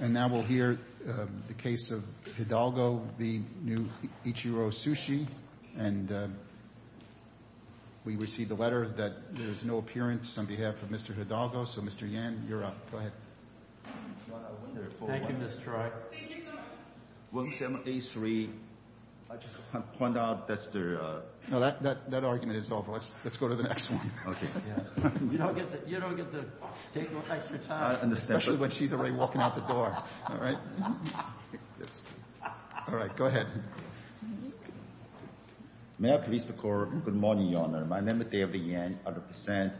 And now we'll hear the case of Hidalgo v. Ichiro Sushi, and we received a letter that there's no appearance on behalf of Mr. Hidalgo. So, Mr. Yan, you're up. Go ahead. Thank you, Mr. Troy. Thank you, sir. 1783, I just want to point out that's the... No, that argument is over. Let's go to the next one. Okay. You don't get to take no extra time. Especially when she's already walking out the door. All right. All right, go ahead. May I please record, good morning, Your Honor. My name is David Yan, 100%.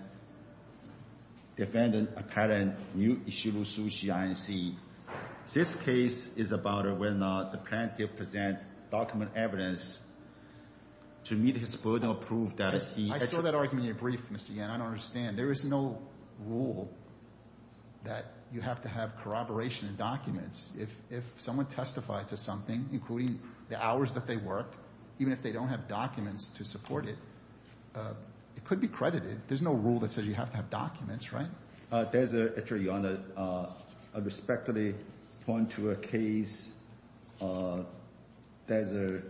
Defendant, apparent, new Ichiro Sushi, Inc. This case is about whether or not the plaintiff present document evidence to meet his burden of proof that he... I saw that argument in your brief, Mr. Yan. I don't understand. There is no rule that you have to have corroboration documents. If someone testified to something, including the hours that they worked, even if they don't have documents to support it, it could be credited. There's no rule that says you have to have documents, right? There's a... Actually, Your Honor, I respectfully point to a case. There's a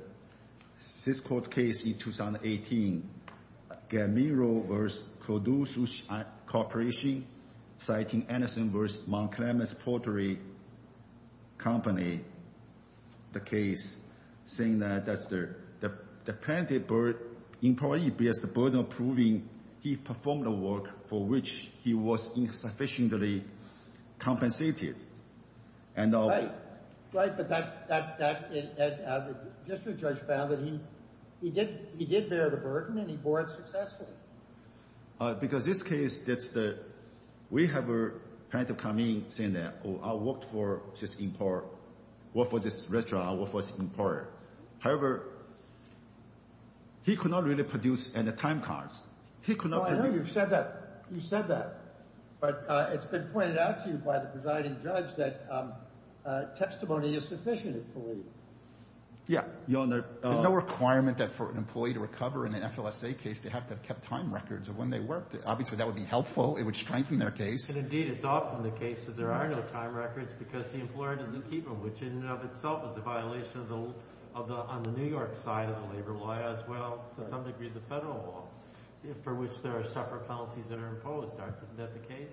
six-court case in 2018. Gamiro versus Purdue Sushi Corporation, citing Anderson versus Monk Clements Pottery Company, the case, saying that the plaintiff, in part, he bears the burden of proving he performed a work for which he was insufficiently compensated. And... Right, but that... District judge found that he did bear the burden and he bore it successfully. Because this case, that's the... We have a plaintiff come in saying that, oh, I worked for this employer, worked for this restaurant, worked for this employer. However, he could not really produce any time cards. He could not... Oh, I know you've said that. You've said that. But it's been pointed out to you by the presiding judge that testimony is sufficient, I believe. Yeah. Your Honor... There's no requirement that for an employee to recover in an FLSA case, they have to have kept time records of when they worked. Obviously, that would be helpful. It would strengthen their case. And indeed, it's often the case that there are no time records because the employer doesn't keep them, which in and of itself is a violation of the... on the New York side of the labor law as well, to some degree, the federal law, for which there are separate penalties that are imposed. Isn't that the case?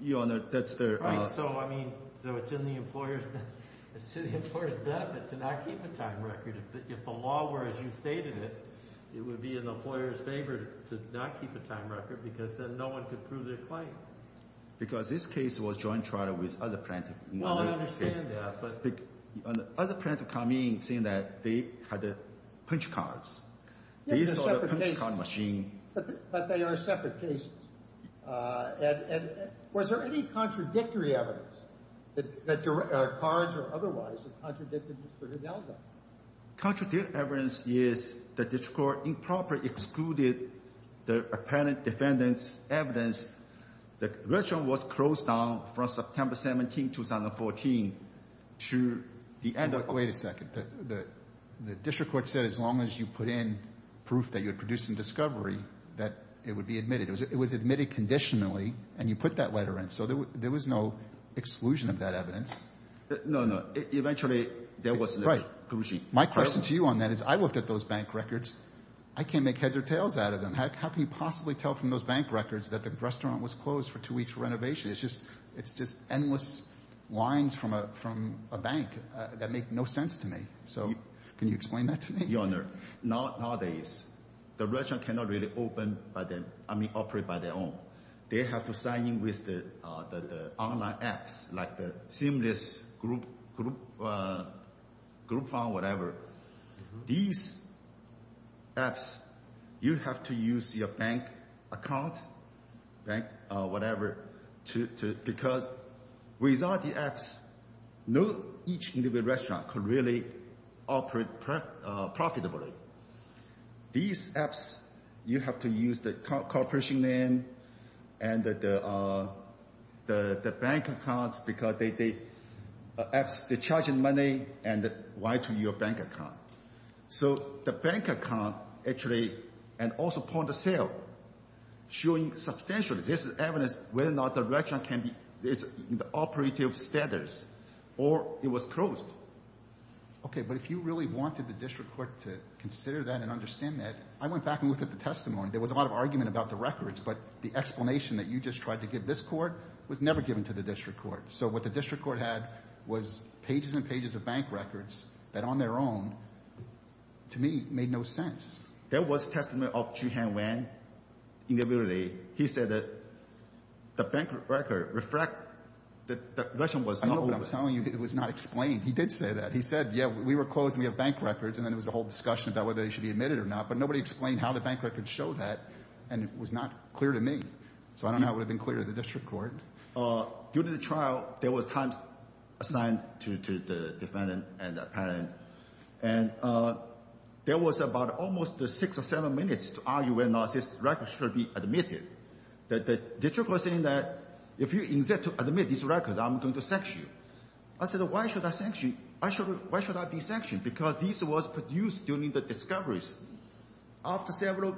Your Honor, that's their... Right, so, I mean, so it's in the employer's... It's to the employer's benefit to not keep a time record. If the law were as you stated it, it would be in the employer's favor to not keep a time record because then no one could prove their claim. Because this case was joint trial with other plaintiff. Well, I understand that, but... Other plaintiff come in saying that they had the punch cards. These are the punch card machine. But they are separate cases. And was there any contradictory evidence that your cards or otherwise contradicted Mr. Hidalgo? Contradictory evidence is that the district court improperly excluded the apparent defendant's evidence. The version was closed down from September 17, 2014 to the end of... Wait a second. The district court said as long as you put in proof that you're producing discovery, that it would be admitted. It was admitted conditionally and you put that letter in. So there was no exclusion of that evidence. No, no. Eventually, there was... My question to you on that is I looked at those bank records. I can't make heads or tails out of them. How can you possibly tell from those bank records that the restaurant was closed for two weeks for renovation? It's just endless lines from a bank that make no sense to me. So can you explain that to me? Your Honor, nowadays, the restaurant cannot really open... I mean, operate by their own. They have to sign in with the online apps, like the seamless group... group phone, whatever. These apps, you have to use your bank account, bank whatever, because without the apps, not each individual restaurant could really operate profitably. These apps, you have to use the corporation name and the bank accounts, because the apps, they're charging money, and why to your bank account? So the bank account, actually, and also point of sale, showing substantially this evidence whether or not the restaurant is in the operative status or it was closed. Okay, but if you really wanted the district court to consider that and understand that, I went back and looked at the testimony. There was a lot of argument about the records, but the explanation that you just tried to give this court was never given to the district court. So what the district court had was pages and pages of bank records that on their own, to me, made no sense. There was a testimony of Chi-Heng Wang in the building. He said that the bank record reflect that the restaurant was not open. I know, but I'm telling you, it was not explained. He did say that. He said, yeah, we were closed and we have bank records, and then it was a whole discussion about whether they should be admitted or not, but nobody explained how the bank record showed that, and it was not clear to me. So I don't know how it would have been clear to the district court. Due to the trial, there was time assigned to the defendant and the parent, and there was about almost six or seven minutes to argue whether or not this record should be admitted. The district court saying that if you insist to admit this record, I'm going to sanction you. I said, why should I sanction you? Why should I be sanctioned? Because this was produced during the discoveries. After several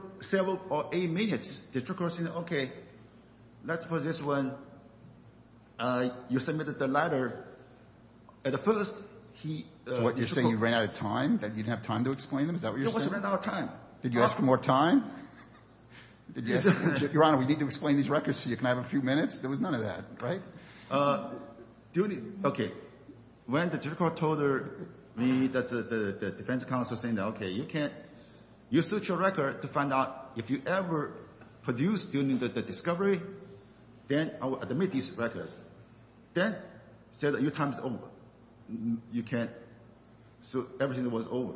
or eight minutes, the district court said, okay, let's suppose this one, you submitted the letter. At first, he— So what, you're saying you ran out of time? That you didn't have time to explain them? Is that what you're saying? No, we ran out of time. Did you ask for more time? Your Honor, we need to explain these records so you can have a few minutes. There was none of that, right? Okay. When the district court told me that the defense counsel said, okay, you can't—you search your record to find out if you ever produced during the discovery, then I will admit these records. Then, he said, your time is over. You can't—so everything was over.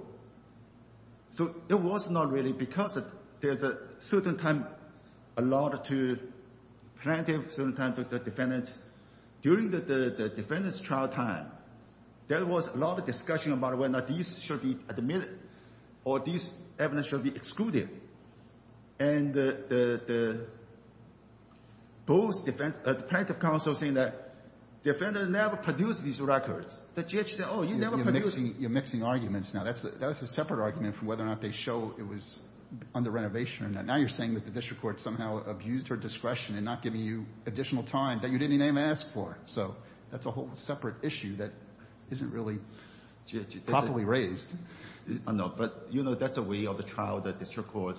So it was not really because there's a certain time allowed to plaintiff, certain time for the defendant. During the defendant's trial time, there was a lot of discussion about whether or not these should be admitted or these evidence should be excluded. And the plaintiff counsel saying that the defendant never produced these records. The judge said, oh, you never produced— You're mixing arguments now. That's a separate argument from whether or not they show it was under renovation or not. Now you're saying that the district court somehow abused her discretion in not giving you additional time that you didn't even ask for. So that's a whole separate issue that isn't really properly raised. I know, but, you know, that's a way of the trial, the district court.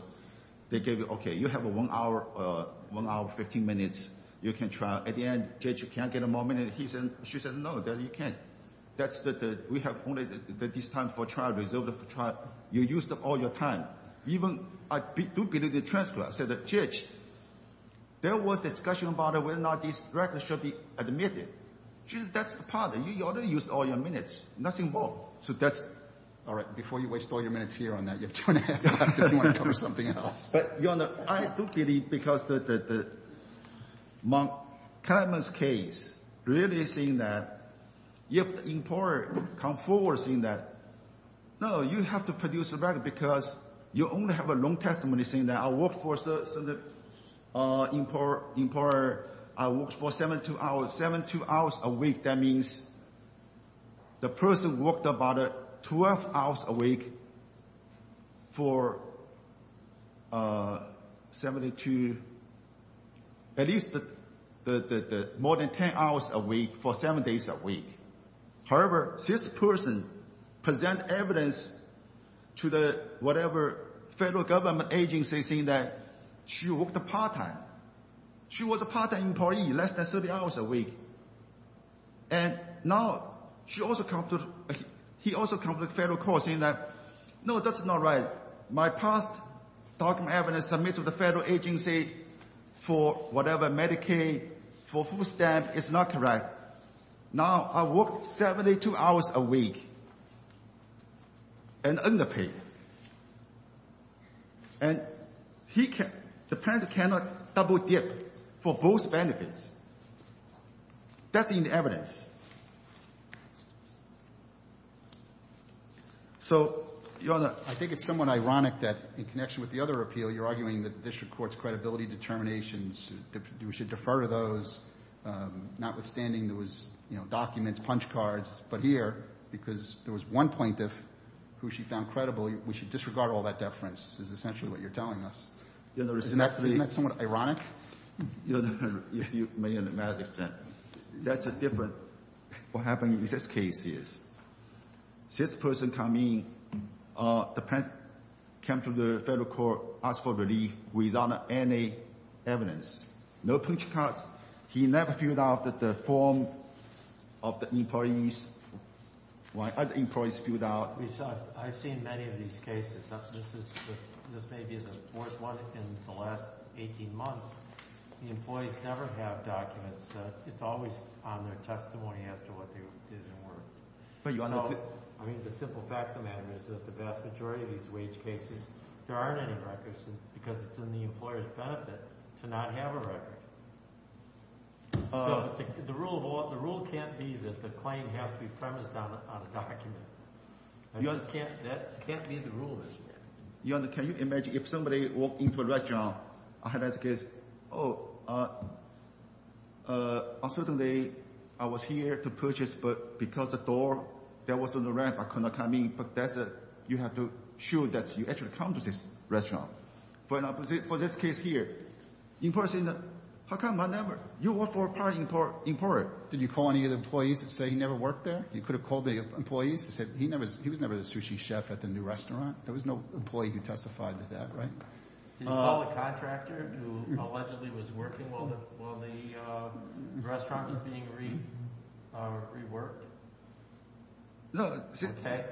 They gave you—okay, you have one hour, 15 minutes. You can try. At the end, judge, you can't get more minutes. He said—she said, no, you can't. That's the—we have only this time for trial, result of the trial. You used up all your time. Even I do believe the transfer. I said, judge, there was discussion about whether or not this record should be admitted. Judge, that's part of it. You already used all your minutes, nothing more. So that's— All right. Before you waste all your minutes here on that, you have two and a half hours. You want to cover something else. But, Your Honor, I do believe because the Montgomery's case really saying that if the employer come forward saying that, no, you have to produce the record because you only have a long testimony saying that I work for the employer. I work for 72 hours a week. That means the person worked about 12 hours a week for 72— at least more than 10 hours a week for seven days a week. However, this person present evidence to the whatever federal government agency saying that she worked part-time. She was a part-time employee, less than 30 hours a week. And now she also come to—he also come to federal court saying that, no, that's not right. My past document evidence submitted to the federal agency for whatever, Medicaid, for food stamp, is not correct. Now I work 72 hours a week and underpaid. And he can—the plan cannot double dip for both benefits. That's in the evidence. So, Your Honor, I think it's somewhat ironic that in connection with the other appeal, you're arguing that the district court's credibility determinations, we should defer to those, notwithstanding those documents, punch cards. But here, because there was one plaintiff who she found credible, we should disregard all that deference is essentially what you're telling us. Isn't that somewhat ironic? Your Honor, if you may understand, that's a different— What happened in this case is, this person come in, the plaintiff came to the federal court, asked for relief without any evidence. No punch cards. He never filled out the form of the employee's— while other employees filled out— We saw—I've seen many of these cases. That's—this is—this may be the worst one in the last 18 months. The employees never have documents. It's always on their testimony as to what is and weren't. But Your Honor— I mean, the simple fact of the matter is that the vast majority of these wage cases, there aren't any records because it's in the employer's benefit to not have a record. So, the rule can't be that the claim has to be premised on a document. That just can't—that can't be the rule this way. Your Honor, can you imagine if somebody walked into a restaurant, I had that case, oh, I was here to purchase, but because the door that was on the ramp, I could not come in. But that's a—you have to show that you actually come to this restaurant. For an opposite—for this case here, in person, how come I never— you work for a part in court. Did you call any of the employees that say he never worked there? You could have called the employees that said he never— he was never the sushi chef at the new restaurant. There was no employee who testified to that, right? Did you call the contractor who allegedly was working while the restaurant was being reworked? No. Okay.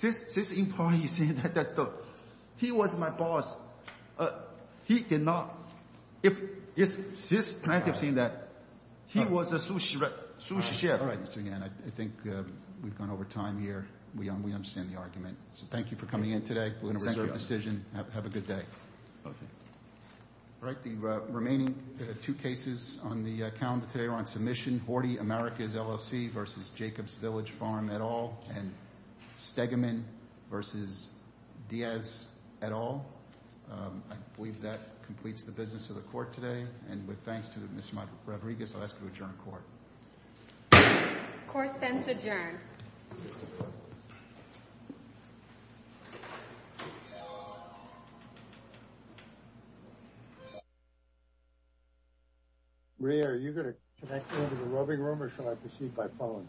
This employee said that he was my boss. He did not—this plaintiff said that he was a sushi chef. All right, Mr. Yan, I think we've gone over time here. We understand the argument. So, thank you for coming in today. We're going to reserve the decision. Have a good day. Okay. All right, the remaining two cases on the calendar today are on submission. Horty, Americas LLC versus Jacobs Village Farm et al. And Stegaman versus Diaz et al. I believe that completes the business of the court today. And with thanks to Ms. Rodriguez, I'll ask you to adjourn the court. Course then is adjourned. Rhea, are you going to connect me to the roving room or should I proceed by phone?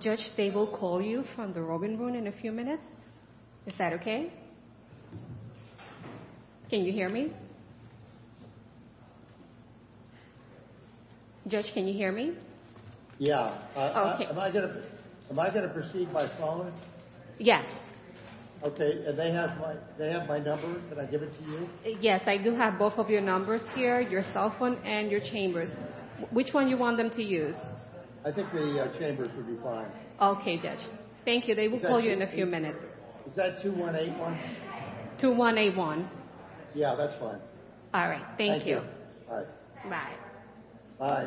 Judge, they will call you from the roving room in a few minutes. Is that okay? Can you hear me? Judge, can you hear me? Yeah, am I going to proceed by phone? Yes. Okay, and they have my number. Can I give it to you? Yes, I do have both of your numbers here, your cell phone and your chambers. Which one you want them to use? I think the chambers would be fine. Okay, Judge. Thank you, they will call you in a few minutes. Is that 2181? 2181. Yeah, that's fine. All right, thank you. All right. Bye. Bye. All right. Bye. Bye. Bye. Bye. Bye. Bye. Bye. Bye. Bye. Bye.